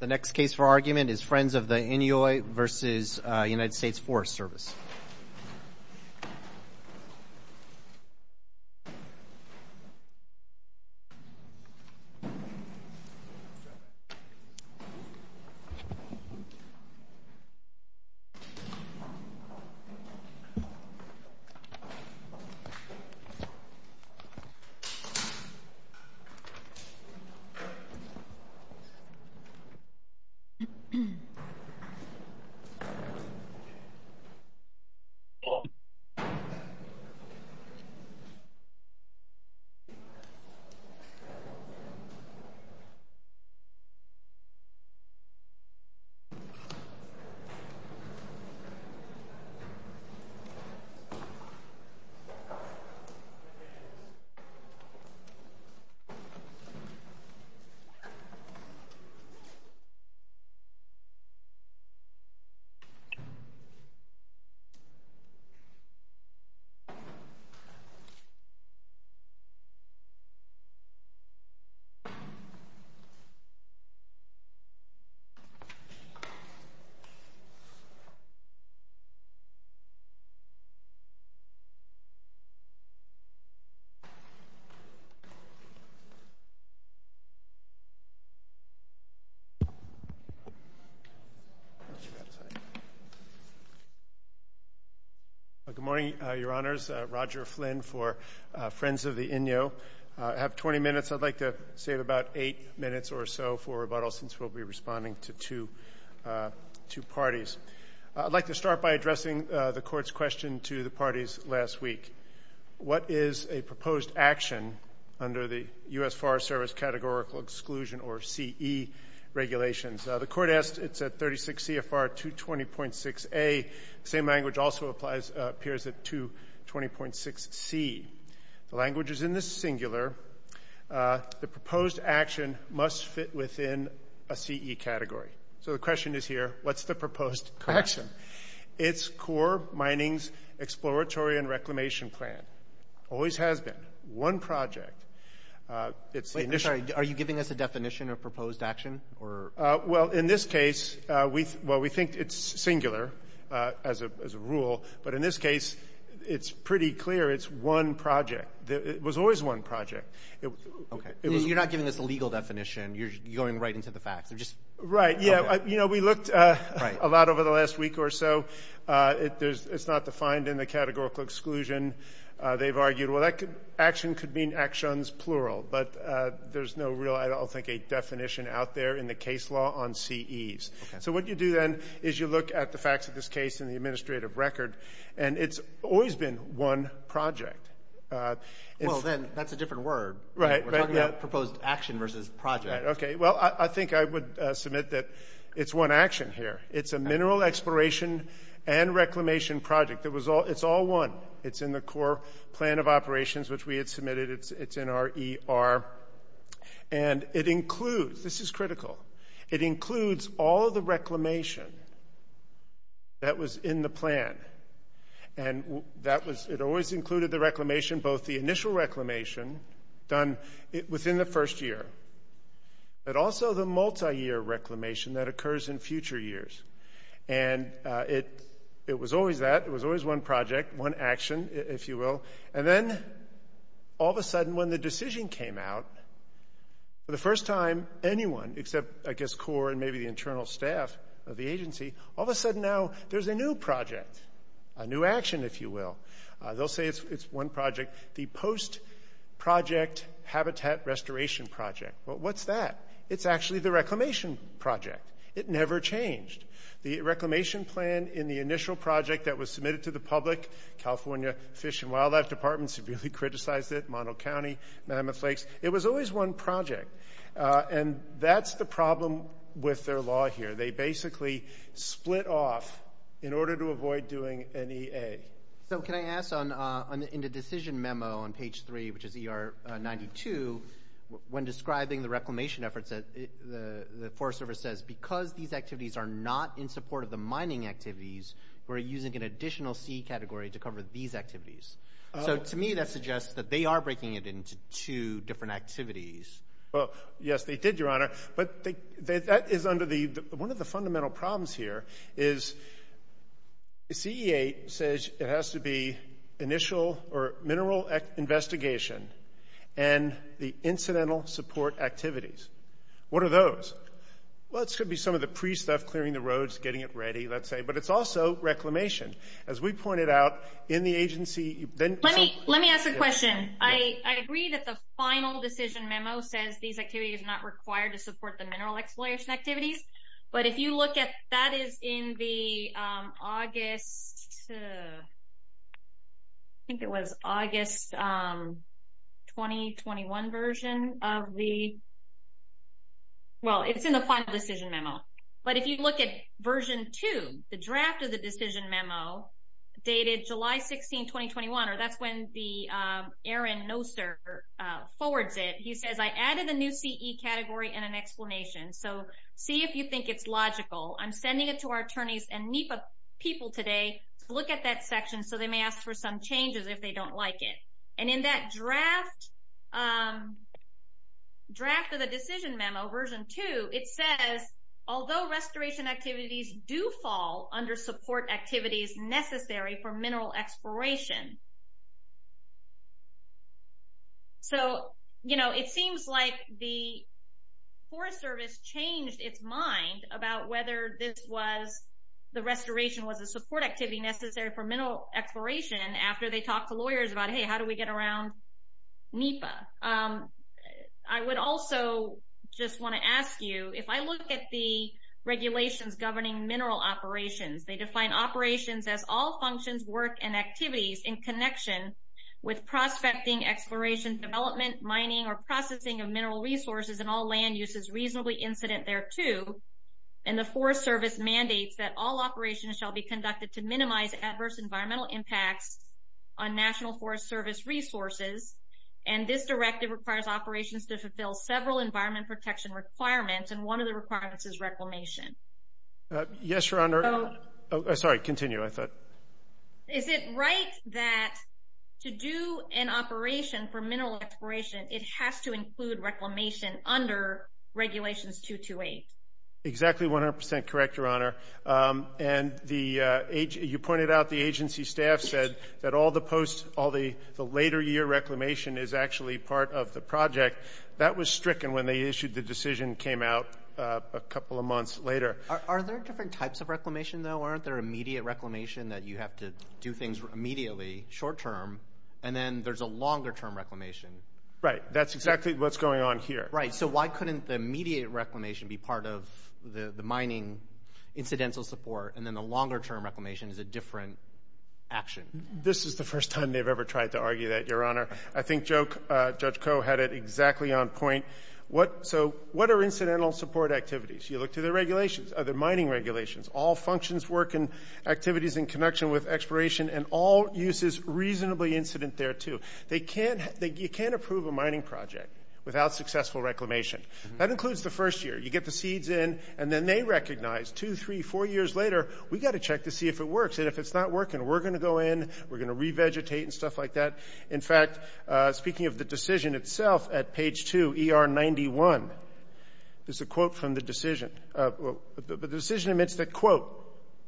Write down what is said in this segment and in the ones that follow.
The next case for argument is Friends of the Inui v. United States Forest Service. This is a case of Friends of the Inui v. United States Forest Service. This is a case of Friends of the Inui v. United States Forest Service. Good morning, Your Honors. Roger Flynn for Friends of the Inui. I have 20 minutes. I'd like to save about eight minutes or so for rebuttal since we'll be responding to two parties. I'd like to start by addressing the Court's question to the parties last week. What is a proposed action under the U.S. Forest Service Categorical Exclusion, or CE, regulations? The Court asked it's at 36 CFR 220.6a. The same language also appears at 220.6c. The language is in the singular. The proposed action must fit within a CE category. So the question is here, what's the proposed action? It's Core Mining's Exploratory and Reclamation Plan. Always has been. One project. Wait, I'm sorry. Are you giving us a definition of proposed action? Well, in this case, well, we think it's singular as a rule. But in this case, it's pretty clear it's one project. It was always one project. Okay. You're not giving us a legal definition. You're going right into the facts. Right. Yeah, you know, we looked a lot over the last week or so. It's not defined in the Categorical Exclusion. They've argued, well, action could mean actions, plural, but there's no real, I don't think, a definition out there in the case law on CEs. Okay. So what you do then is you look at the facts of this case in the administrative record, and it's always been one project. Well, then, that's a different word. Right. We're talking about proposed action versus project. Okay. Well, I think I would submit that it's one action here. It's a mineral exploration and reclamation project. It's all one. It's in the core plan of operations, which we had submitted. It's in our ER. And it includes, this is critical, it includes all of the reclamation that was in the plan. And it always included the reclamation, both the initial reclamation done within the first year, but also the multiyear reclamation that occurs in future years. And it was always that. It was always one project, one action, if you will. And then, all of a sudden, when the decision came out, for the first time, anyone, except, I guess, CORE and maybe the internal staff of the agency, all of a sudden now there's a new project, a new action, if you will. They'll say it's one project, the post-project habitat restoration project. Well, what's that? It's actually the reclamation project. It never changed. The reclamation plan in the initial project that was submitted to the public, California Fish and Wildlife Department severely criticized it, Mono County, Mammoth Lakes. It was always one project. And that's the problem with their law here. They basically split off in order to avoid doing an EA. So, can I ask, in the decision memo on page 3, which is ER 92, when describing the reclamation efforts, the Forest Service says, because these activities are not in support of the mining activities, we're using an additional C category to cover these activities. So, to me, that suggests that they are breaking it into two different activities. Well, yes, they did, Your Honor. But that is under the one of the fundamental problems here is CEA says it has to be initial or mineral investigation and the incidental support activities. What are those? Well, it's going to be some of the pre-stuff, clearing the roads, getting it ready, let's say. But it's also reclamation. As we pointed out, in the agency, then so. Let me ask a question. I agree that the final decision memo says these activities are not required to support the mineral exploration activities. But if you look at that is in the August, I think it was August 2021 version of the, well, it's in the final decision memo. But if you look at version 2, the draft of the decision memo dated July 16, 2021, or that's when the Aaron Noster forwards it. He says, I added a new CE category and an explanation. So, see if you think it's logical. I'm sending it to our attorneys and NEPA people today to look at that section so they may ask for some changes if they don't like it. And in that draft of the decision memo, version 2, it says, although restoration activities do fall under support activities necessary for mineral exploration. So, you know, it seems like the Forest Service changed its mind about whether this was the restoration was a support activity necessary for mineral exploration after they talked to lawyers about, hey, how do we get around NEPA? I would also just want to ask you, if I look at the regulations governing mineral operations, they define operations as all functions, work, and activities in connection with prospecting, exploration, development, mining, or processing of mineral resources and all land uses reasonably incident thereto. And the Forest Service mandates that all operations shall be conducted to minimize adverse environmental impacts on National Forest Service resources. And this directive requires operations to fulfill several environment protection requirements, and one of the requirements is reclamation. Yes, Your Honor. Sorry, continue, I thought. Is it right that to do an operation for mineral exploration, it has to include reclamation under Regulations 228? Exactly 100% correct, Your Honor. And you pointed out the agency staff said that all the post, all the later year reclamation is actually part of the project. That was stricken when they issued the decision came out a couple of months later. Are there different types of reclamation, though? Aren't there immediate reclamation that you have to do things immediately, short-term, and then there's a longer-term reclamation? Right, that's exactly what's going on here. Right, so why couldn't the immediate reclamation be part of the mining incidental support, and then the longer-term reclamation is a different action? This is the first time they've ever tried to argue that, Your Honor. I think Judge Koh had it exactly on point. So what are incidental support activities? You look to the regulations, the mining regulations. All functions, work, and activities in connection with exploration and all uses reasonably incident thereto. You can't approve a mining project without successful reclamation. That includes the first year. You get the seeds in, and then they recognize two, three, four years later, we've got to check to see if it works, and if it's not working, we're going to go in, we're going to revegetate and stuff like that. In fact, speaking of the decision itself, at page 2, ER 91, there's a quote from the decision. The decision admits that, quote,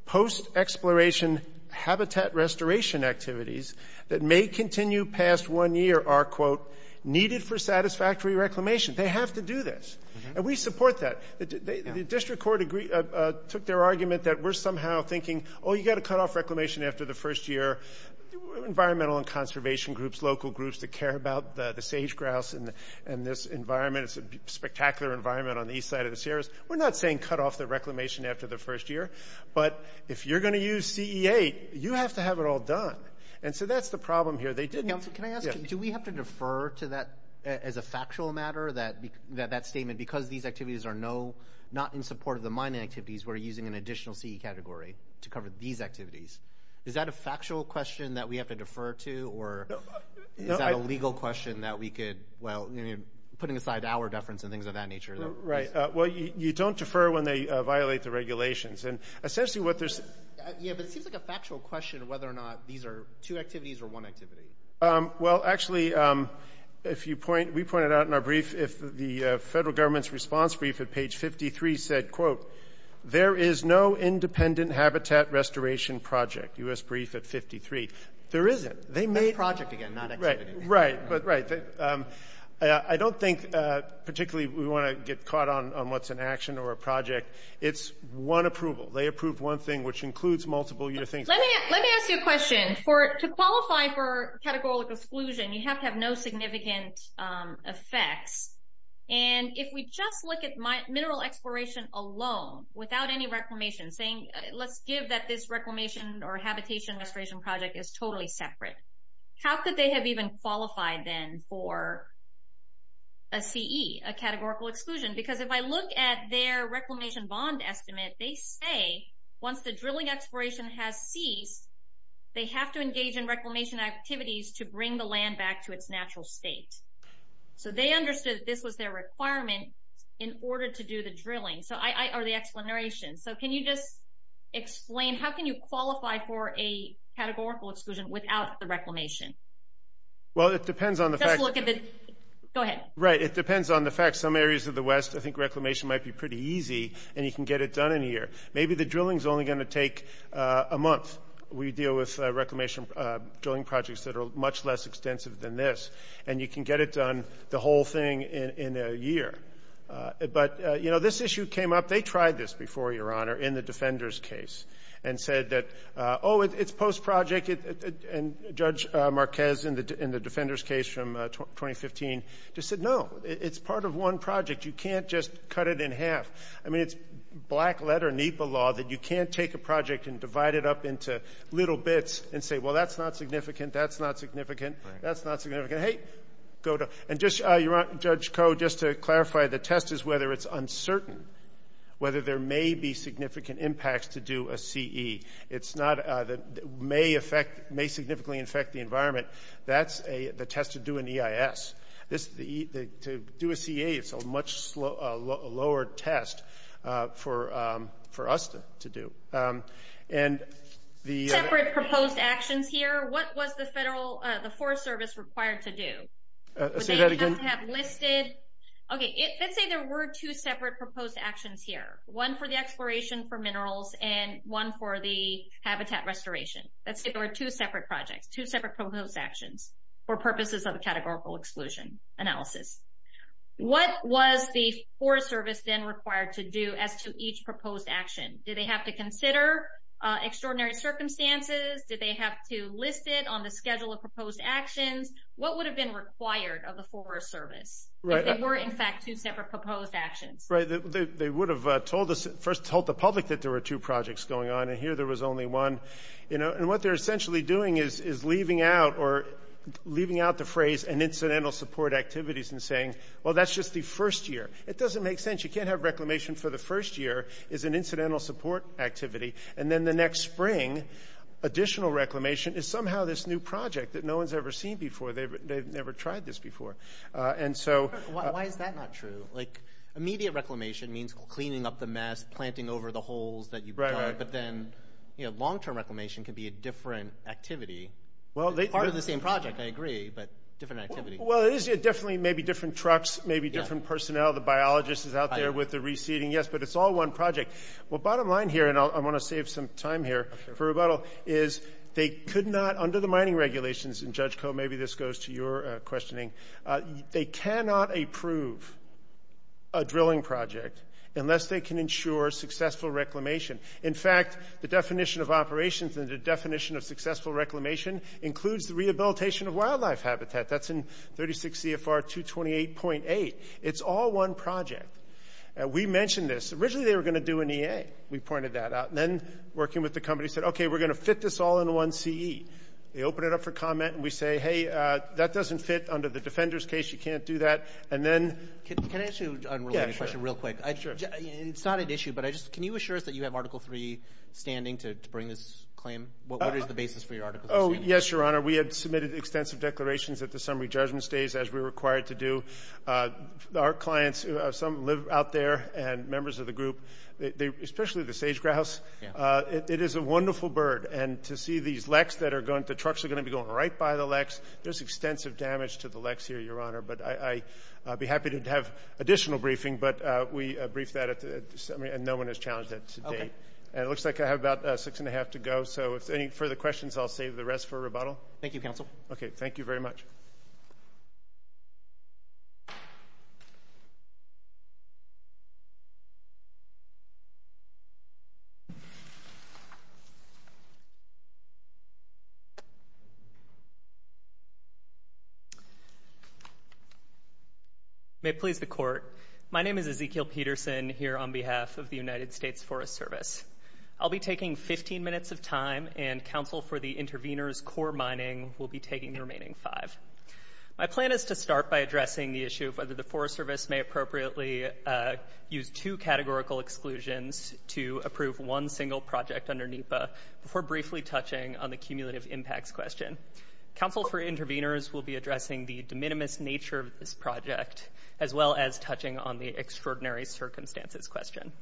post-exploration habitat restoration activities that may continue past one year are, quote, needed for satisfactory reclamation. They have to do this. And we support that. The district court took their argument that we're somehow thinking, oh, you've got to cut off reclamation after the first year. Environmental and conservation groups, local groups that care about the sage grouse and this environment. It's a spectacular environment on the east side of the Sierras. We're not saying cut off the reclamation after the first year, but if you're going to use CE8, you have to have it all done. And so that's the problem here. They didn't. Can I ask, do we have to defer to that as a factual matter, that statement, because these activities are not in support of the mining activities, we're using an additional CE category to cover these activities? Is that a factual question that we have to defer to, or is that a legal question that we could, well, putting aside our deference and things of that nature? Right. Well, you don't defer when they violate the regulations. And essentially what there's – Yeah, but it seems like a factual question whether or not these are two activities or one activity. Well, actually, we pointed out in our brief, if the federal government's response brief at page 53 said, quote, there is no independent habitat restoration project, U.S. brief at 53. There isn't. It's project again, not activity. Right. Right. I don't think particularly we want to get caught on what's an action or a project. It's one approval. They approve one thing, which includes multiple U.S. things. Let me ask you a question. To qualify for categorical exclusion, you have to have no significant effects. And if we just look at mineral exploration alone without any reclamation, saying let's give that this reclamation or habitation restoration project is totally separate, how could they have even qualified then for a CE, a categorical exclusion? Because if I look at their reclamation bond estimate, they say once the drilling exploration has ceased, they have to engage in reclamation activities to bring the land back to its natural state. So they understood that this was their requirement in order to do the drilling, or the exclamation. So can you just explain how can you qualify for a categorical exclusion without the reclamation? Well, it depends on the fact. Just look at the. Go ahead. Right. It depends on the fact. Some areas of the West, I think reclamation might be pretty easy, and you can get it done in a year. Maybe the drilling is only going to take a month. We deal with reclamation drilling projects that are much less extensive than this, and you can get it done, the whole thing, in a year. But, you know, this issue came up. They tried this before, Your Honor, in the Defender's case, and said that, oh, it's post-project, and Judge Marquez in the Defender's case from 2015 just said, no, it's part of one project. You can't just cut it in half. I mean, it's black-letter NEPA law that you can't take a project and divide it up into little bits and say, well, that's not significant, that's not significant, that's not significant. Hey, go to. And, Judge Koh, just to clarify, the test is whether it's uncertain, whether there may be significant impacts to do a CE. It's not that it may significantly affect the environment. That's the test to do an EIS. To do a CE, it's a much lower test for us to do. Separate proposed actions here, what was the Forest Service required to do? Say that again? Okay, let's say there were two separate proposed actions here, one for the exploration for minerals and one for the habitat restoration. Let's say there were two separate projects, two separate proposed actions for purposes of a categorical exclusion analysis. What was the Forest Service then required to do as to each proposed action? Did they have to consider extraordinary circumstances? Did they have to list it on the schedule of proposed actions? What would have been required of the Forest Service if there were, in fact, two separate proposed actions? Right. They would have first told the public that there were two projects going on, and here there was only one. And what they're essentially doing is leaving out the phrase and incidental support activities and saying, well, that's just the first year. It doesn't make sense. You can't have reclamation for the first year as an incidental support activity, and then the next spring additional reclamation is somehow this new project that no one's ever seen before. They've never tried this before. Why is that not true? Like immediate reclamation means cleaning up the mess, planting over the holes that you've dug, but then long-term reclamation can be a different activity. It's part of the same project, I agree, but different activity. Well, it is definitely maybe different trucks, maybe different personnel. The biologist is out there with the reseeding. Yes, but it's all one project. Well, bottom line here, and I want to save some time here for rebuttal, is they could not, under the mining regulations, and, Judge Koh, maybe this goes to your questioning, they cannot approve a drilling project unless they can ensure successful reclamation. In fact, the definition of operations and the definition of successful reclamation includes the rehabilitation of wildlife habitat. That's in 36 CFR 228.8. It's all one project. We mentioned this. Originally they were going to do an EA. We pointed that out. Then, working with the company, said, okay, we're going to fit this all in one CE. They open it up for comment, and we say, hey, that doesn't fit under the Defender's case. You can't do that. And then ‑‑ Can I ask you a related question real quick? Sure. It's not an issue, but can you assure us that you have Article III standing to bring this claim? What is the basis for your Article III? Oh, yes, Your Honor. We have submitted extensive declarations at the summary judgment stage, as we're required to do. Our clients, some live out there, and members of the group, especially the sage-grouse, it is a wonderful bird. And to see these leks that are going ‑‑ the trucks are going to be going right by the leks. There's extensive damage to the leks here, Your Honor. But I'd be happy to have additional briefing. But we briefed that at the summary, and no one has challenged that to date. Okay. And it looks like I have about six and a half to go. So if there's any further questions, I'll save the rest for rebuttal. Thank you, Counsel. Okay. Thank you very much. May it please the Court. My name is Ezekiel Peterson, here on behalf of the United States Forest Service. I'll be taking 15 minutes of time, and Counsel for the Intervenors, Core Mining, will be taking the remaining five. My plan is to start by addressing the issue of whether the Forest Service may appropriately use two categorical exclusions to approve one single project under NEPA, before briefly touching on the cumulative impacts question. Counsel for Intervenors will be addressing the de minimis nature of this project, as well as touching on the extraordinary circumstances question.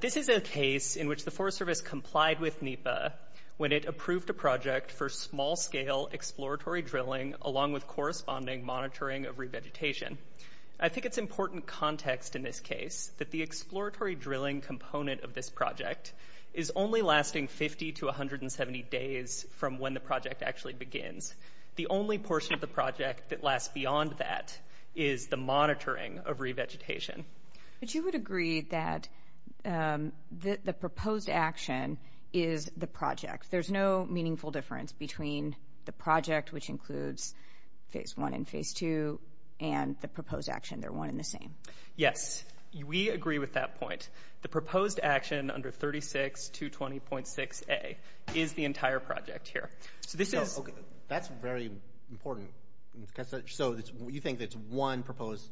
This is a case in which the Forest Service complied with NEPA when it approved a project for small‑scale exploratory drilling, along with corresponding monitoring of revegetation. I think it's important context in this case that the exploratory drilling component of this project is only lasting 50 to 170 days from when the project actually begins. The only portion of the project that lasts beyond that is the monitoring of revegetation. But you would agree that the proposed action is the project. There's no meaningful difference between the project, which includes Phase I and Phase II, and the proposed action. They're one and the same. Yes. We agree with that point. The proposed action under 36220.6A is the entire project here. That's very important. So you think it's one proposed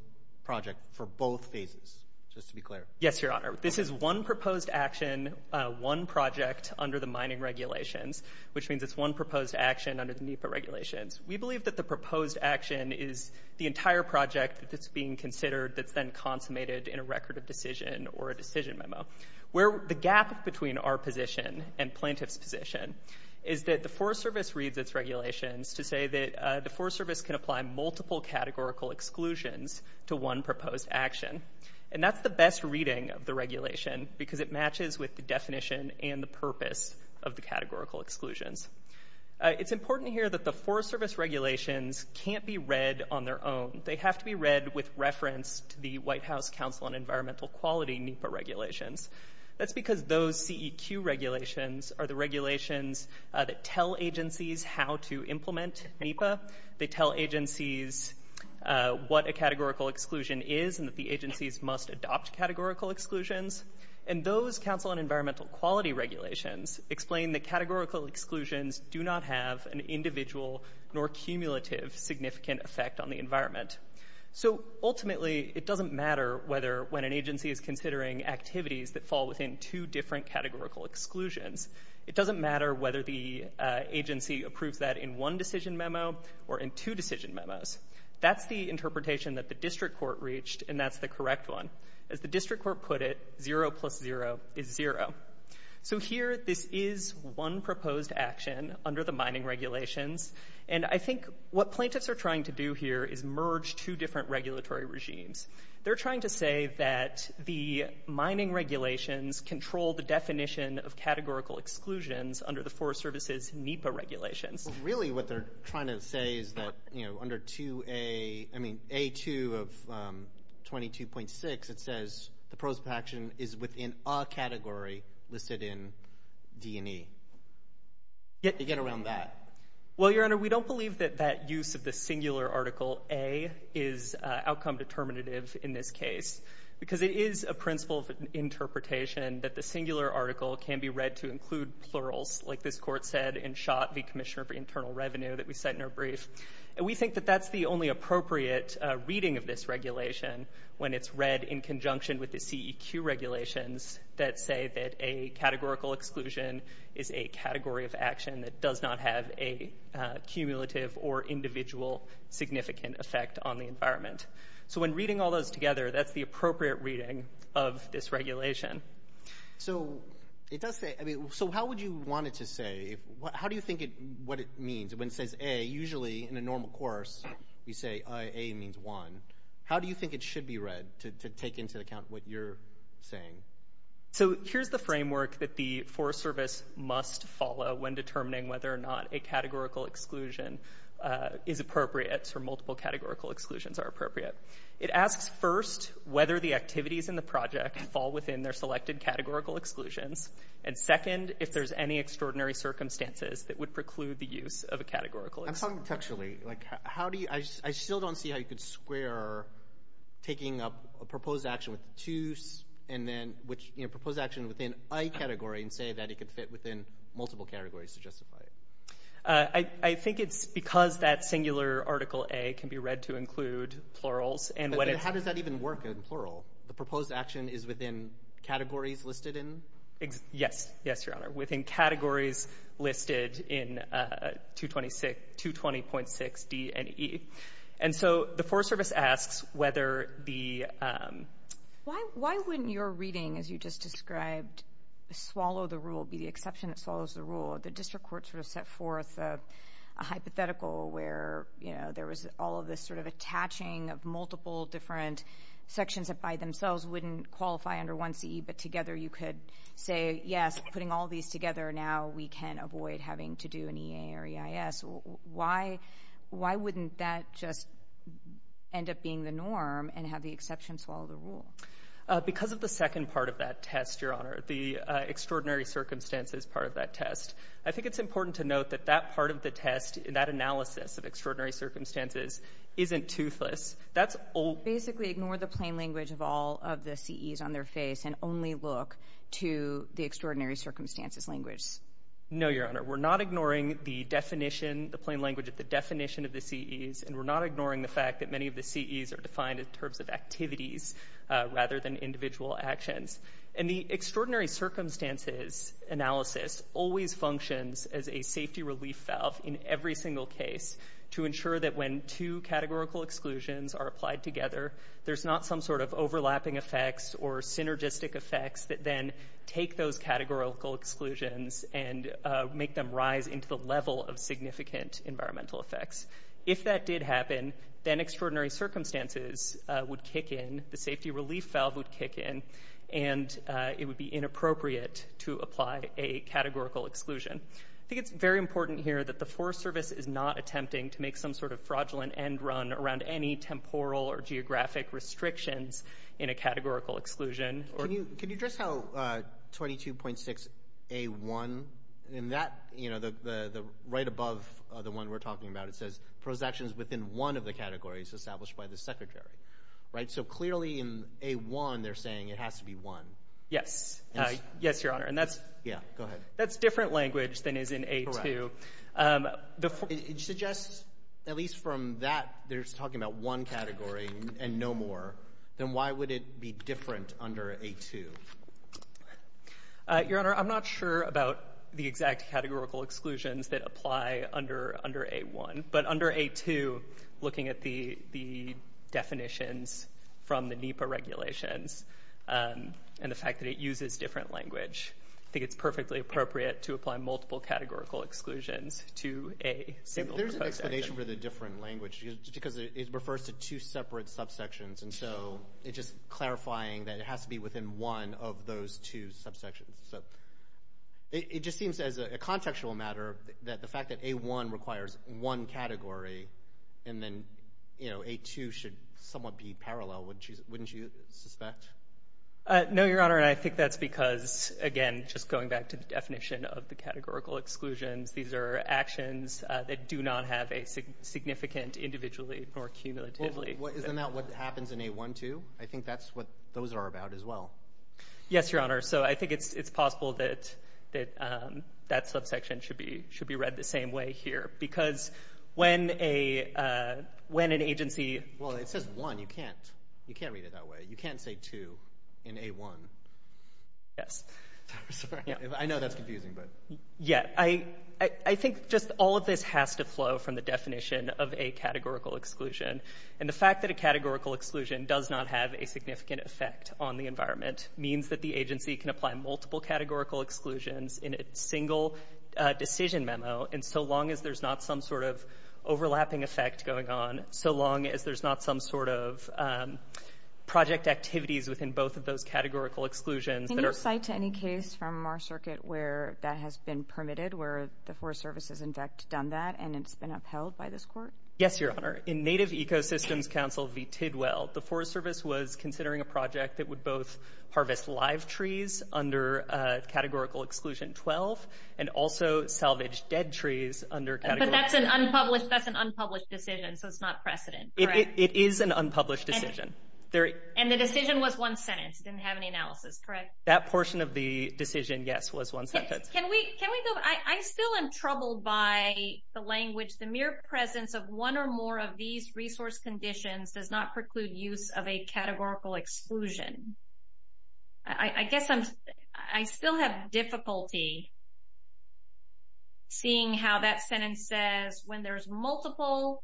project for both phases, just to be clear? Yes, Your Honor. This is one proposed action, one project under the mining regulations, which means it's one proposed action under the NEPA regulations. We believe that the proposed action is the entire project that's being considered that's then consummated in a record of decision or a decision memo. The gap between our position and plaintiff's position is that the Forest Service reads its regulations to say that the Forest Service can apply multiple categorical exclusions to one proposed action. And that's the best reading of the regulation because it matches with the definition and the purpose of the categorical exclusions. It's important here that the Forest Service regulations can't be read on their own. They have to be read with reference to the White House Council on Environmental Quality NEPA regulations. That's because those CEQ regulations are the regulations that tell agencies how to implement NEPA. They tell agencies what a categorical exclusion is and that the agencies must adopt categorical exclusions. And those Council on Environmental Quality regulations explain that categorical exclusions do not have an individual nor cumulative significant effect on the environment. So ultimately, it doesn't matter whether when an agency is considering activities that fall within two different categorical exclusions. It doesn't matter whether the agency approves that in one decision memo or in two decision memos. That's the interpretation that the district court reached, and that's the correct one. As the district court put it, zero plus zero is zero. So here, this is one proposed action under the mining regulations. And I think what plaintiffs are trying to do here is merge two different regulatory regimes. They're trying to say that the mining regulations control the definition of categorical exclusions under the Forest Service's NEPA regulations. Really what they're trying to say is that, you know, under 2A, I mean, A2 of 22.6, it says the proposed action is within a category listed in D&E. They get around that. Well, Your Honor, we don't believe that that use of the singular article A is outcome determinative in this case because it is a principle of interpretation that the singular article can be read to include plurals, like this court said in Schott v. Commissioner for Internal Revenue that we cite in our brief. And we think that that's the only appropriate reading of this regulation when it's read in conjunction with the CEQ regulations that say that a categorical exclusion is a category of action that does not have a cumulative or individual significant effect on the environment. So when reading all those together, that's the appropriate reading of this regulation. So how would you want it to say? How do you think what it means when it says A? Usually in a normal course, you say A means one. How do you think it should be read to take into account what you're saying? So here's the framework that the Forest Service must follow when determining whether or not a categorical exclusion is appropriate or multiple categorical exclusions are appropriate. It asks, first, whether the activities in the project fall within their selected categorical exclusions, and, second, if there's any extraordinary circumstances that would preclude the use of a categorical exclusion. I'm talking contextually. I still don't see how you could square taking a proposed action within a category and say that it could fit within multiple categories to justify it. I think it's because that singular Article A can be read to include plurals. How does that even work in plural? The proposed action is within categories listed in? Yes, Your Honor, within categories listed in 220.6 D and E. And so the Forest Service asks whether the— Why wouldn't your reading, as you just described, swallow the rule, be the exception that swallows the rule? The District Court sort of set forth a hypothetical where, you know, there was all of this sort of attaching of multiple different sections that by themselves wouldn't qualify under 1C, but together you could say, yes, putting all these together, now we can avoid having to do an EA or EIS. Why wouldn't that just end up being the norm and have the exception swallow the rule? Because of the second part of that test, Your Honor, the extraordinary circumstances part of that test. I think it's important to note that that part of the test, that analysis of extraordinary circumstances, isn't toothless. Basically ignore the plain language of all of the CEs on their face and only look to the extraordinary circumstances language. No, Your Honor. We're not ignoring the definition, the plain language of the definition of the CEs, and we're not ignoring the fact that many of the CEs are defined in terms of activities rather than individual actions. And the extraordinary circumstances analysis always functions as a safety relief valve in every single case to ensure that when two categorical exclusions are applied together, there's not some sort of overlapping effects or synergistic effects that then take those categorical exclusions and make them rise into the level of significant environmental effects. If that did happen, then extraordinary circumstances would kick in, the safety relief valve would kick in, and it would be inappropriate to apply a categorical exclusion. I think it's very important here that the Forest Service is not attempting to make some sort of fraudulent end run around any temporal or geographic restrictions in a categorical exclusion. Can you address how 22.6A1, in that, you know, the right above the one we're talking about, it says prose actions within one of the categories established by the Secretary. Right? So clearly in A1 they're saying it has to be one. Yes. Yes, Your Honor. Yeah, go ahead. That's different language than is in A2. Correct. It suggests, at least from that, they're talking about one category and no more. Then why would it be different under A2? Your Honor, I'm not sure about the exact categorical exclusions that apply under A1, but under A2, looking at the definitions from the NEPA regulations and the fact that it uses different language, I think it's perfectly appropriate to apply multiple categorical exclusions to a single prosecution. There's an explanation for the different language because it refers to two separate subsections, and so it's just clarifying that it has to be within one of those two subsections. So it just seems as a contextual matter that the fact that A1 requires one category and then, you know, A2 should somewhat be parallel, wouldn't you suspect? No, Your Honor, and I think that's because, again, just going back to the definition of the categorical exclusions, these are actions that do not have a significant individually or cumulatively. Isn't that what happens in A1-2? I think that's what those are about as well. Yes, Your Honor. So I think it's possible that that subsection should be read the same way here because when an agency— Well, it says one. You can't read it that way. You can't say two in A1. Yes. I'm sorry. I know that's confusing, but— Yeah. I think just all of this has to flow from the definition of a categorical exclusion, and the fact that a categorical exclusion does not have a significant effect on the environment means that the agency can apply multiple categorical exclusions in a single decision memo, and so long as there's not some sort of overlapping effect going on, so long as there's not some sort of project activities within both of those categorical exclusions— Can you cite any case from our circuit where that has been permitted, where the Forest Service has, in fact, done that and it's been upheld by this court? Yes, Your Honor. In Native Ecosystems Council v. Tidwell, the Forest Service was considering a project that would both harvest live trees under categorical exclusion 12 and also salvage dead trees under— That's an unpublished decision, so it's not precedent, correct? It is an unpublished decision. And the decision was one sentence. It didn't have any analysis, correct? That portion of the decision, yes, was one sentence. Can we go—I still am troubled by the language, the mere presence of one or more of these resource conditions does not preclude use of a categorical exclusion. I guess I'm—I still have difficulty seeing how that sentence says, when there's multiple,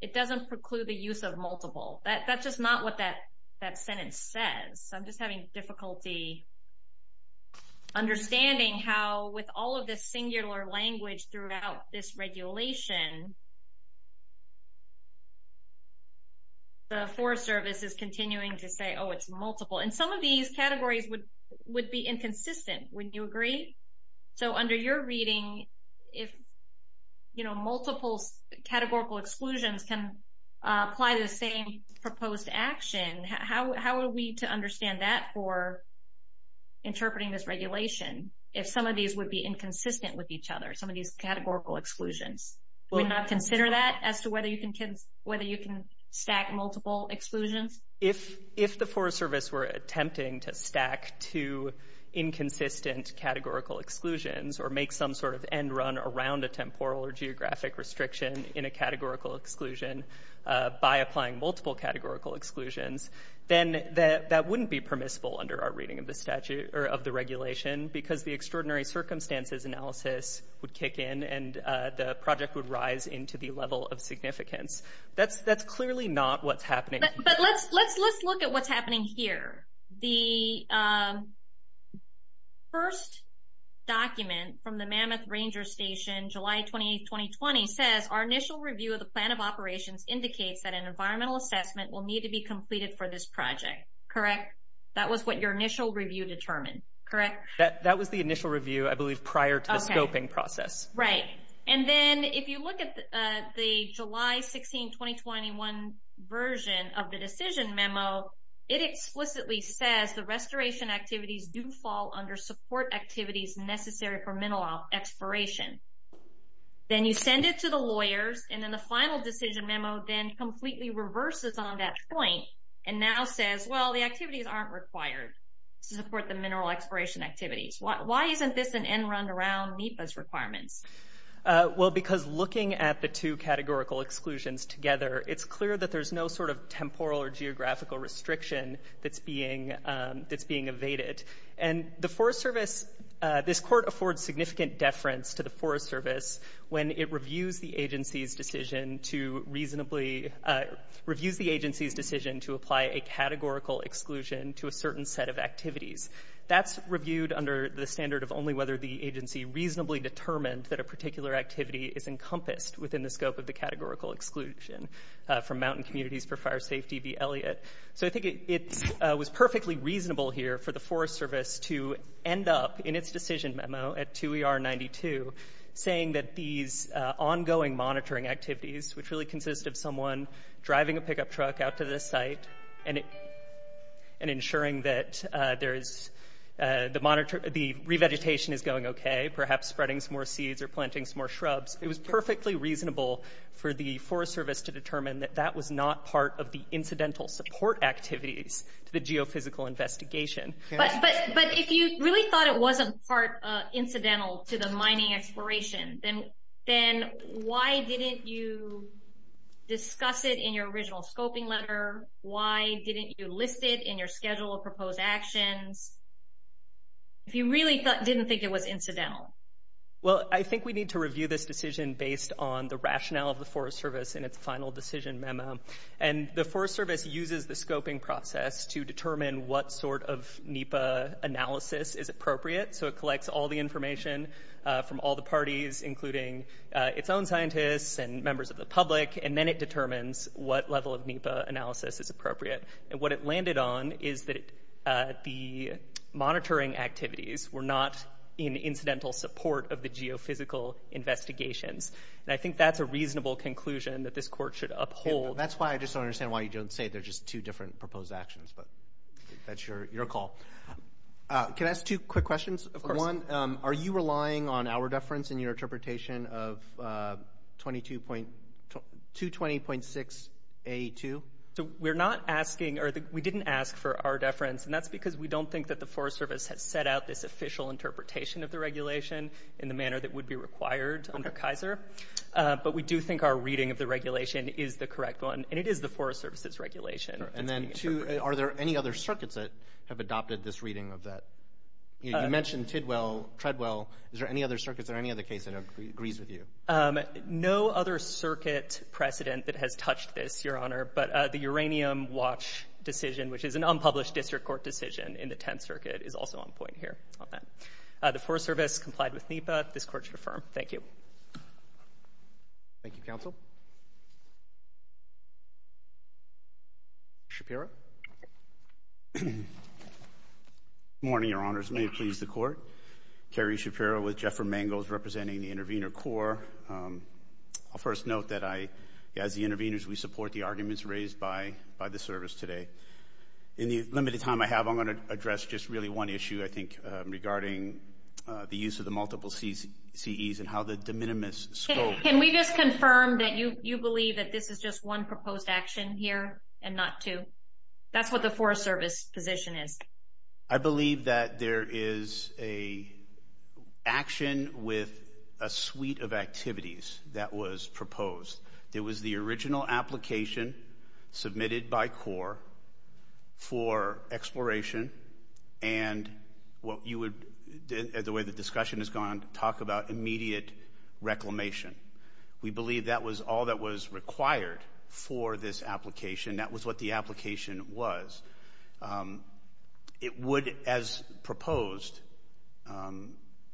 it doesn't preclude the use of multiple. That's just not what that sentence says. I'm just having difficulty understanding how, with all of this singular language throughout this regulation, the Forest Service is continuing to say, oh, it's multiple. And some of these categories would be inconsistent, wouldn't you agree? So under your reading, if, you know, multiple categorical exclusions can apply the same proposed action, how are we to understand that for interpreting this regulation, if some of these would be inconsistent with each other, some of these categorical exclusions? Would we not consider that as to whether you can stack multiple exclusions? If the Forest Service were attempting to stack two inconsistent categorical exclusions or make some sort of end run around a temporal or geographic restriction in a categorical exclusion by applying multiple categorical exclusions, then that wouldn't be permissible under our reading of the regulation because the extraordinary circumstances analysis would kick in and the project would rise into the level of significance. That's clearly not what's happening. But let's look at what's happening here. The first document from the Mammoth Ranger Station, July 28, 2020, says our initial review of the plan of operations indicates that an environmental assessment will need to be completed for this project, correct? That was what your initial review determined, correct? That was the initial review, I believe, prior to the scoping process. Right. And then if you look at the July 16, 2021 version of the decision memo, it explicitly says the restoration activities do fall under support activities necessary for mineral exploration. Then you send it to the lawyers, and then the final decision memo then completely reverses on that point and now says, well, the activities aren't required to support the mineral exploration activities. Why isn't this an end-run around NEPA's requirements? Well, because looking at the two categorical exclusions together, it's clear that there's no sort of temporal or geographical restriction that's being evaded. And the Forest Service, this court affords significant deference to the Forest Service when it reviews the agency's decision to reasonably to apply a categorical exclusion to a certain set of activities. That's reviewed under the standard of only whether the agency reasonably determined that a particular activity is encompassed within the scope of the categorical exclusion from Mountain Communities for Fire Safety v. Elliott. So I think it was perfectly reasonable here for the Forest Service to end up, in its decision memo at 2ER92, saying that these ongoing monitoring activities, which really consist of someone driving a pickup truck out to this site and ensuring that the revegetation is going okay, perhaps spreading some more seeds or planting some more shrubs, it was perfectly reasonable for the Forest Service to determine that that was not part of the incidental support activities to the geophysical investigation. But if you really thought it wasn't incidental to the mining exploration, then why didn't you discuss it in your original scoping letter? Why didn't you list it in your schedule of proposed actions? If you really didn't think it was incidental. Well, I think we need to review this decision based on the rationale of the Forest Service in its final decision memo. And the Forest Service uses the scoping process to determine what sort of NEPA analysis is appropriate. So it collects all the information from all the parties, including its own scientists and members of the public, and then it determines what level of NEPA analysis is appropriate. And what it landed on is that the monitoring activities were not in incidental support of the geophysical investigations. And I think that's a reasonable conclusion that this court should uphold. That's why I just don't understand why you don't say they're just two different proposed actions, but that's your call. Can I ask two quick questions? Of course. One, are you relying on our deference in your interpretation of 220.6A2? We're not asking or we didn't ask for our deference, and that's because we don't think that the Forest Service has set out this official interpretation of the regulation in the manner that would be required under Kaiser. But we do think our reading of the regulation is the correct one, and it is the Forest Service's regulation. And then, two, are there any other circuits that have adopted this reading of that? You mentioned Tidwell, Treadwell. Is there any other circuits or any other case that agrees with you? No other circuit precedent that has touched this, Your Honor, but the uranium watch decision, which is an unpublished district court decision in the Tenth Circuit, is also on point here on that. The Forest Service complied with NEPA. This Court should affirm. Thank you. Thank you, counsel. Kerry Shapiro. Good morning, Your Honors. May it please the Court. Kerry Shapiro with Jeffrey Mangels representing the Intervenor Corps. I'll first note that I, as the intervenors, we support the arguments raised by the Service today. In the limited time I have, I'm going to address just really one issue, I think, regarding the use of the multiple CEs and how the de minimis scope. Can we just confirm that you believe that this is just one proposed action here and not two? That's what the Forest Service position is. I believe that there is an action with a suite of activities that was proposed. It was the original application submitted by Corps for exploration and what you would, the way the discussion has gone, talk about immediate reclamation. We believe that was all that was required for this application. That was what the application was. It would, as proposed,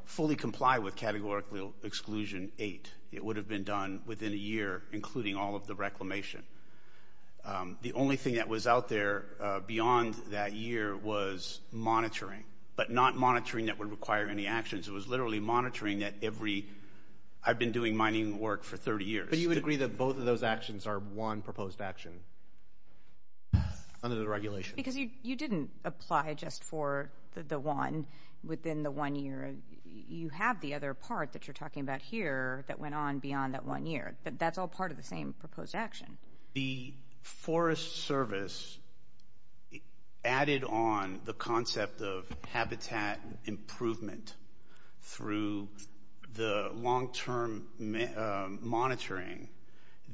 fully comply with Categorical Exclusion 8. It would have been done within a year, including all of the reclamation. The only thing that was out there beyond that year was monitoring, but not monitoring that would require any actions. It was literally monitoring that every, I've been doing mining work for 30 years. But you would agree that both of those actions are one proposed action under the regulations? Because you didn't apply just for the one within the one year. You have the other part that you're talking about here that went on beyond that one year, but that's all part of the same proposed action. The Forest Service added on the concept of habitat improvement through the long-term monitoring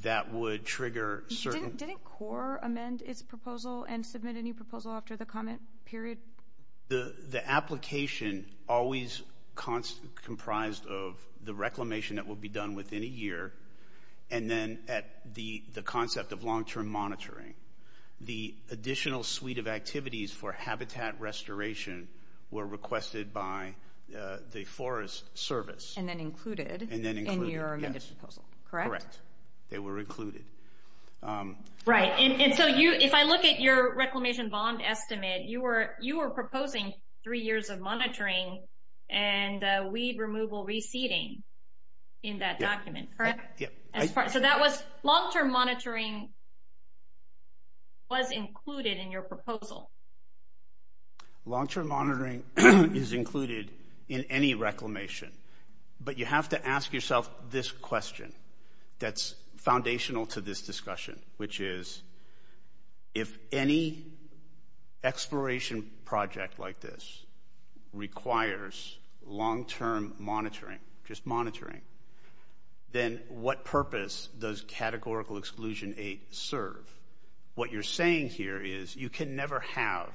that would trigger certain... Didn't Corps amend its proposal and submit a new proposal after the comment period? The application always comprised of the reclamation that would be done within a year, and then at the concept of long-term monitoring. The additional suite of activities for habitat restoration were requested by the Forest Service. And then included in your amended proposal, correct? Correct. They were included. Right. If I look at your reclamation bond estimate, you were proposing three years of monitoring and weed removal reseeding in that document, correct? Yep. So that was long-term monitoring was included in your proposal. Long-term monitoring is included in any reclamation. But you have to ask yourself this question that's foundational to this discussion, which is if any exploration project like this requires long-term monitoring, just monitoring, then what purpose does Categorical Exclusion 8 serve? What you're saying here is you can never have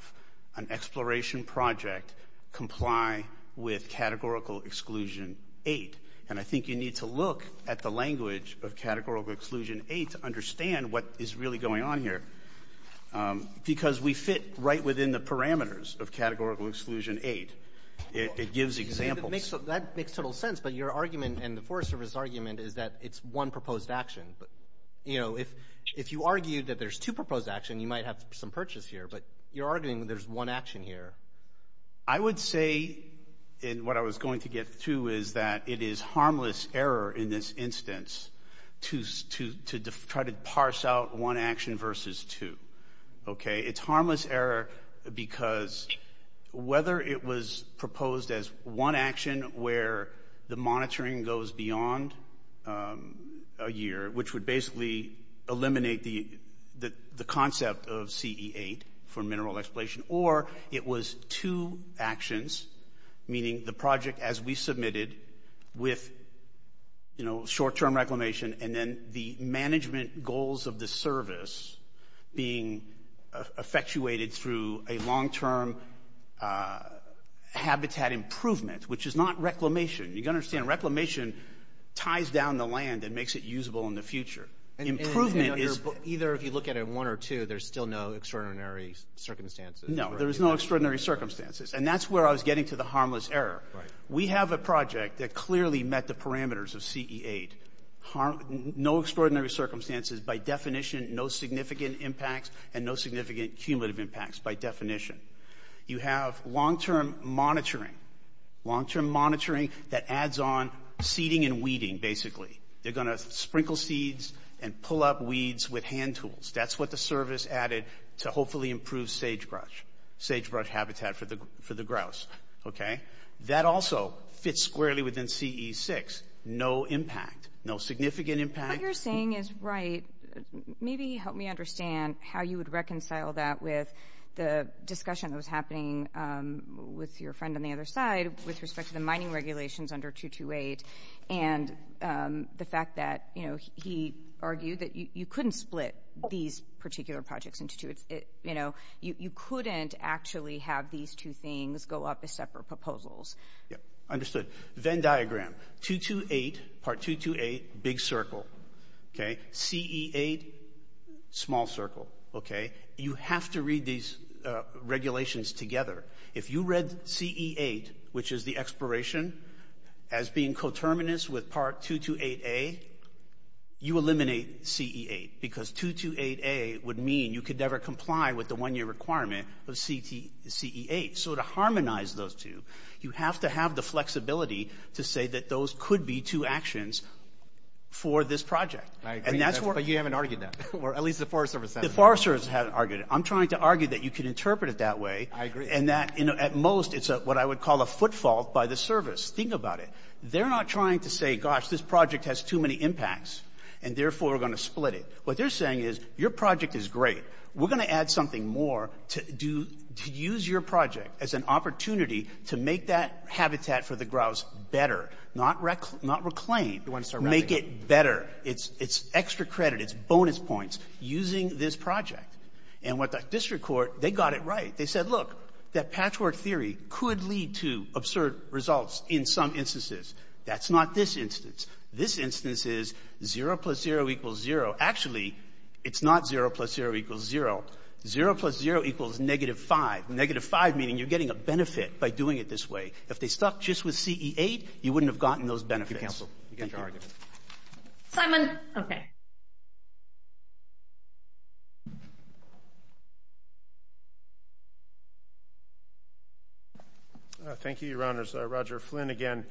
an exploration project comply with Categorical Exclusion 8. And I think you need to look at the language of Categorical Exclusion 8 to understand what is really going on here. Because we fit right within the parameters of Categorical Exclusion 8. It gives examples. That makes total sense. But your argument and the Forest Service argument is that it's one proposed action. If you argued that there's two proposed actions, you might have some purchase here. But you're arguing there's one action here. I would say, and what I was going to get to, is that it is harmless error in this instance to try to parse out one action versus two. Okay? It's harmless error because whether it was proposed as one action where the monitoring goes beyond a year, which would basically eliminate the concept of CE8 for mineral exploration, or it was two actions, meaning the project as we submitted, with short-term reclamation and then the management goals of the service being effectuated through a long-term habitat improvement, which is not reclamation. You've got to understand, reclamation ties down the land and makes it usable in the future. Improvement is... No, there is no extraordinary circumstances. And that's where I was getting to the harmless error. We have a project that clearly met the parameters of CE8. No extraordinary circumstances by definition, no significant impacts and no significant cumulative impacts by definition. You have long-term monitoring, long-term monitoring that adds on seeding and weeding, basically. They're going to sprinkle seeds and pull up weeds with hand tools. That's what the service added to hopefully improve sagebrush, sagebrush habitat for the grouse. That also fits squarely within CE6. No impact, no significant impact. What you're saying is right. Maybe help me understand how you would reconcile that with the discussion that was happening with your friend on the other side with respect to the mining regulations under 228 and the fact that, you know, he argued that you couldn't split these particular projects into two. You know, you couldn't actually have these two things go up as separate proposals. Understood. Venn diagram, 228, Part 228, big circle. Okay. CE8, small circle. Okay. You have to read these regulations together. If you read CE8, which is the expiration, as being coterminous with Part 228A, you eliminate CE8 because 228A would mean you could never comply with the one-year requirement of CE8. So to harmonize those two, you have to have the flexibility to say that those could be two actions for this project. I agree, but you haven't argued that, or at least the Forest Service hasn't. The Forest Service hasn't argued it. I'm trying to argue that you can interpret it that way. I agree. And that, you know, at most, it's what I would call a footfall by the service. Think about it. They're not trying to say, gosh, this project has too many impacts, and therefore we're going to split it. What they're saying is, your project is great. We're going to add something more to do to use your project as an opportunity to make that habitat for the grouse better, not reclaim. You want to start wrapping it up. Make it better. It's extra credit. It's bonus points using this project. And with the district court, they got it right. They said, look, that patchwork theory could lead to absurd results in some instances. That's not this instance. This instance is 0 plus 0 equals 0. Actually, it's not 0 plus 0 equals 0. 0 plus 0 equals negative 5. Negative 5 meaning you're getting a benefit by doing it this way. If they stuck just with CE8, you wouldn't have gotten those benefits. Thank you. Simon. Okay. Thank you, Your Honors. Roger Flynn again.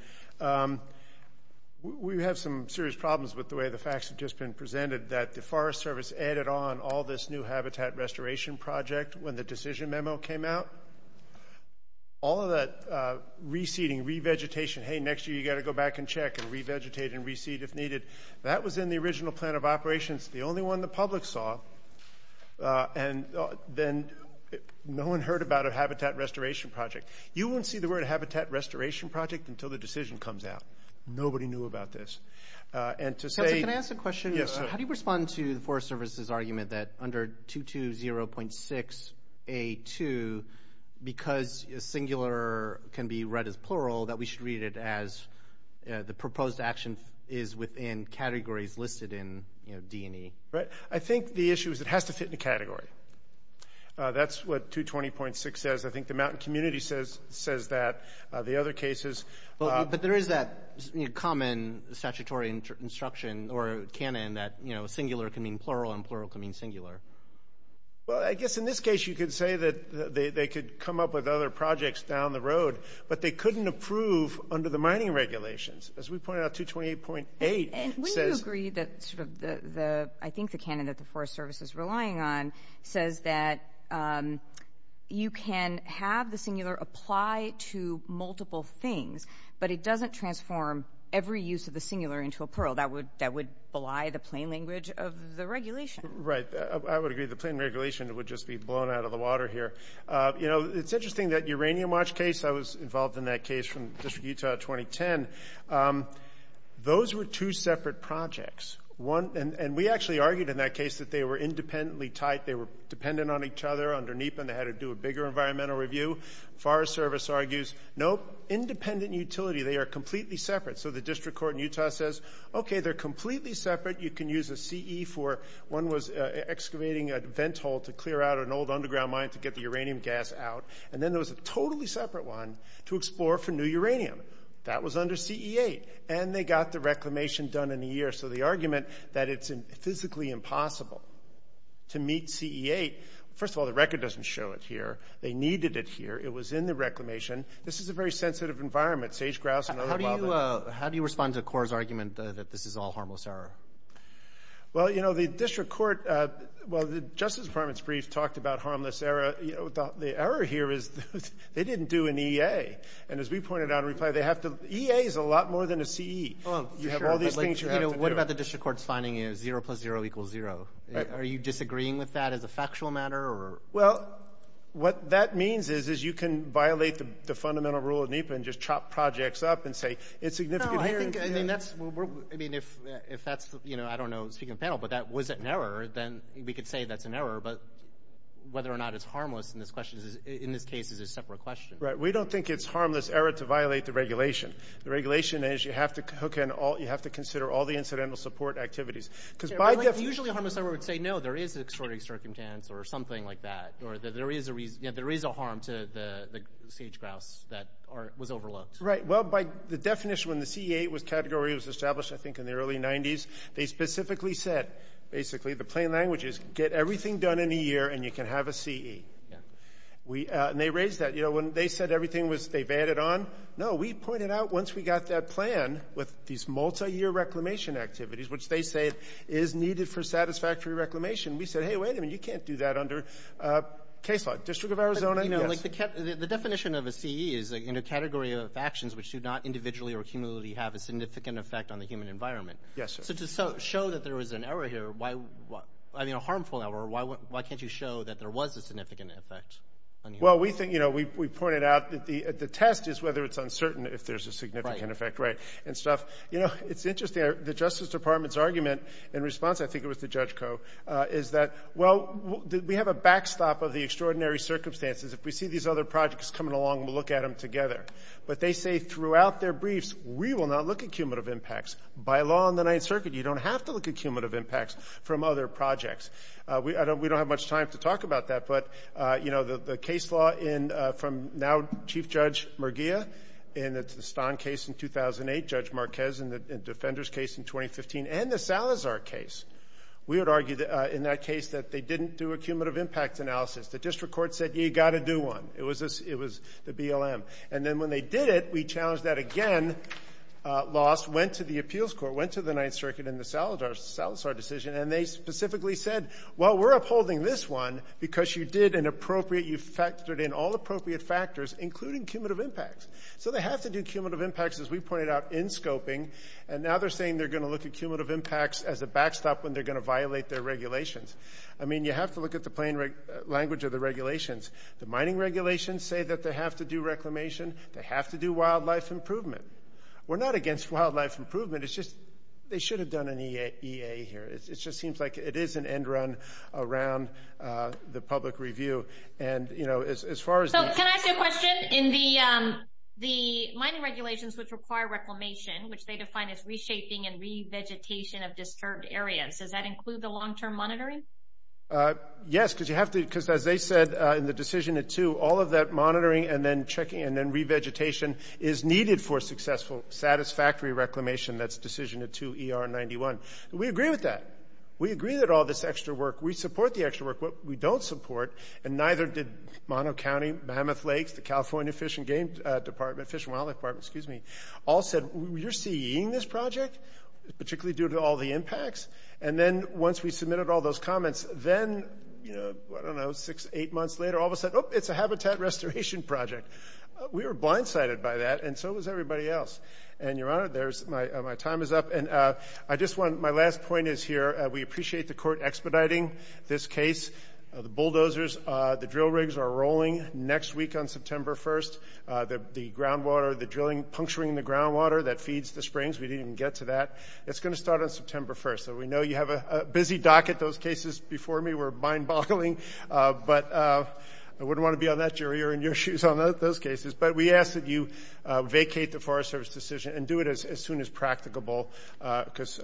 We have some serious problems with the way the facts have just been presented, that the Forest Service added on all this new habitat restoration project when the decision memo came out. All of that reseeding, revegetation, hey, next year you've got to go back and check and revegetate and reseed if needed. That was in the original plan of operations, the only one the public saw. And then no one heard about a habitat restoration project. You won't see the word habitat restoration project until the decision comes out. Nobody knew about this. And to say – Counselor, can I ask a question? Yes, sir. How do you respond to the Forest Service's argument that under 220.6A2, because singular can be read as plural, that we should read it as the proposed action is within categories listed in D&E? Right. I think the issue is it has to fit in a category. That's what 220.6 says. I think the Mountain Community says that. The other cases – But there is that common statutory instruction or canon that singular can mean plural and plural can mean singular. Well, I guess in this case you could say that they could come up with other projects down the road, but they couldn't approve under the mining regulations. As we pointed out, 220.8 says – And wouldn't you agree that sort of the – I think the canon that the Forest Service is relying on says that you can have the singular apply to multiple things, but it doesn't transform every use of the singular into a plural. That would belie the plain language of the regulation. Right. I would agree the plain regulation would just be blown out of the water here. You know, it's interesting. That uranium watch case, I was involved in that case from the District of Utah 2010. Those were two separate projects. And we actually argued in that case that they were independently tied. They were dependent on each other. Under NEPA, they had to do a bigger environmental review. Forest Service argues, nope, independent utility. They are completely separate. So the District Court in Utah says, okay, they're completely separate. You can use a CE for – one was excavating a vent hole to clear out an old underground mine to get the uranium gas out. And then there was a totally separate one to explore for new uranium. That was under CE-8. And they got the reclamation done in a year. So the argument that it's physically impossible to meet CE-8 – first of all, the record doesn't show it here. They needed it here. It was in the reclamation. This is a very sensitive environment. How do you respond to CORE's argument that this is all harmless error? Well, you know, the District Court – well, the Justice Department's brief talked about harmless error. The error here is they didn't do an EA. And as we pointed out in reply, they have to – EA is a lot more than a CE. You have all these things you have to do. What about the District Court's finding is zero plus zero equals zero? Are you disagreeing with that as a factual matter? Well, what that means is you can violate the fundamental rule of NEPA and just chop projects up and say it's significant here. No, I think that's – I mean, if that's – I don't know, speaking to the panel, but that was an error, then we could say that's an error. But whether or not it's harmless in this case is a separate question. Right. We don't think it's harmless error to violate the regulation. The regulation is you have to consider all the incidental support activities. Usually a harmless error would say, no, there is extraordinary circumstance or something like that, or there is a harm to the sage grouse that was overlooked. Right. Well, by the definition when the CEA category was established, I think, in the early 90s, they specifically said basically the plain language is get everything done in a year and you can have a CE. And they raised that. When they said everything was – they vetted on, no, we pointed out once we got that plan with these multi-year reclamation activities, which they say is needed for satisfactory reclamation, we said, hey, wait a minute, you can't do that under case law. District of Arizona, no. The definition of a CE is in a category of actions which do not individually or cumulatively have a significant effect on the human environment. Yes, sir. So to show that there is an error here, I mean a harmful error, why can't you show that there was a significant effect? Well, we think – we pointed out that the test is whether it's uncertain if there's a significant effect. Right. And stuff. You know, it's interesting. The Justice Department's argument in response, I think it was to Judge Koh, is that, well, we have a backstop of the extraordinary circumstances. If we see these other projects coming along, we'll look at them together. But they say throughout their briefs, we will not look at cumulative impacts. By law in the Ninth Circuit, you don't have to look at cumulative impacts from other projects. We don't have much time to talk about that. But, you know, the case law in – from now Chief Judge Murgia in the Stahn case in 2008, Judge Marquez in the Defenders case in 2015, and the Salazar case, we would argue in that case that they didn't do a cumulative impact analysis. The district court said, you got to do one. It was the BLM. And then when they did it, we challenged that again, lost, went to the appeals court, went to the Ninth Circuit and the Salazar decision, and they specifically said, well, we're upholding this one because you did an appropriate – you factored in all appropriate factors, including cumulative impacts. So they have to do cumulative impacts, as we pointed out, in scoping. And now they're saying they're going to look at cumulative impacts as a backstop when they're going to violate their regulations. I mean, you have to look at the plain language of the regulations. The mining regulations say that they have to do reclamation. They have to do wildlife improvement. We're not against wildlife improvement. It's just they should have done an EA here. It just seems like it is an end run around the public review. And, you know, as far as – So can I ask you a question? In the mining regulations, which require reclamation, which they define as reshaping and revegetation of disturbed areas, does that include the long-term monitoring? Yes, because you have to – because as they said in the decision at 2, all of that monitoring and then checking and then revegetation is needed for successful, satisfactory reclamation. That's decision at 2 ER91. We agree with that. We agree that all this extra work – we support the extra work. What we don't support, and neither did Mono County, Mammoth Lakes, the California Fish and Game Department, Fish and Wildlife Department, excuse me, all said we're seeing this project, particularly due to all the impacts. And then once we submitted all those comments, then, you know, I don't know, six, eight months later, all of us said, oh, it's a habitat restoration project. We were blindsided by that, and so was everybody else. And, Your Honor, my time is up. And I just want – my last point is here. We appreciate the court expediting this case. The bulldozers, the drill rigs are rolling next week on September 1st. The groundwater, the drilling, puncturing the groundwater that feeds the springs, we didn't even get to that. It's going to start on September 1st. So we know you have a busy dock at those cases before me. We're mind-boggling. But I wouldn't want to be on that jury or in your shoes on those cases. But we ask that you vacate the Forest Service decision and do it as soon as practicable because,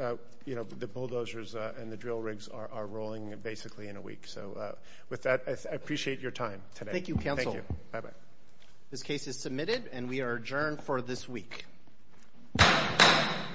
you know, the bulldozers and the drill rigs are rolling basically in a week. So with that, I appreciate your time today. Thank you, counsel. Thank you. Bye-bye. This case is submitted, and we are adjourned for this week.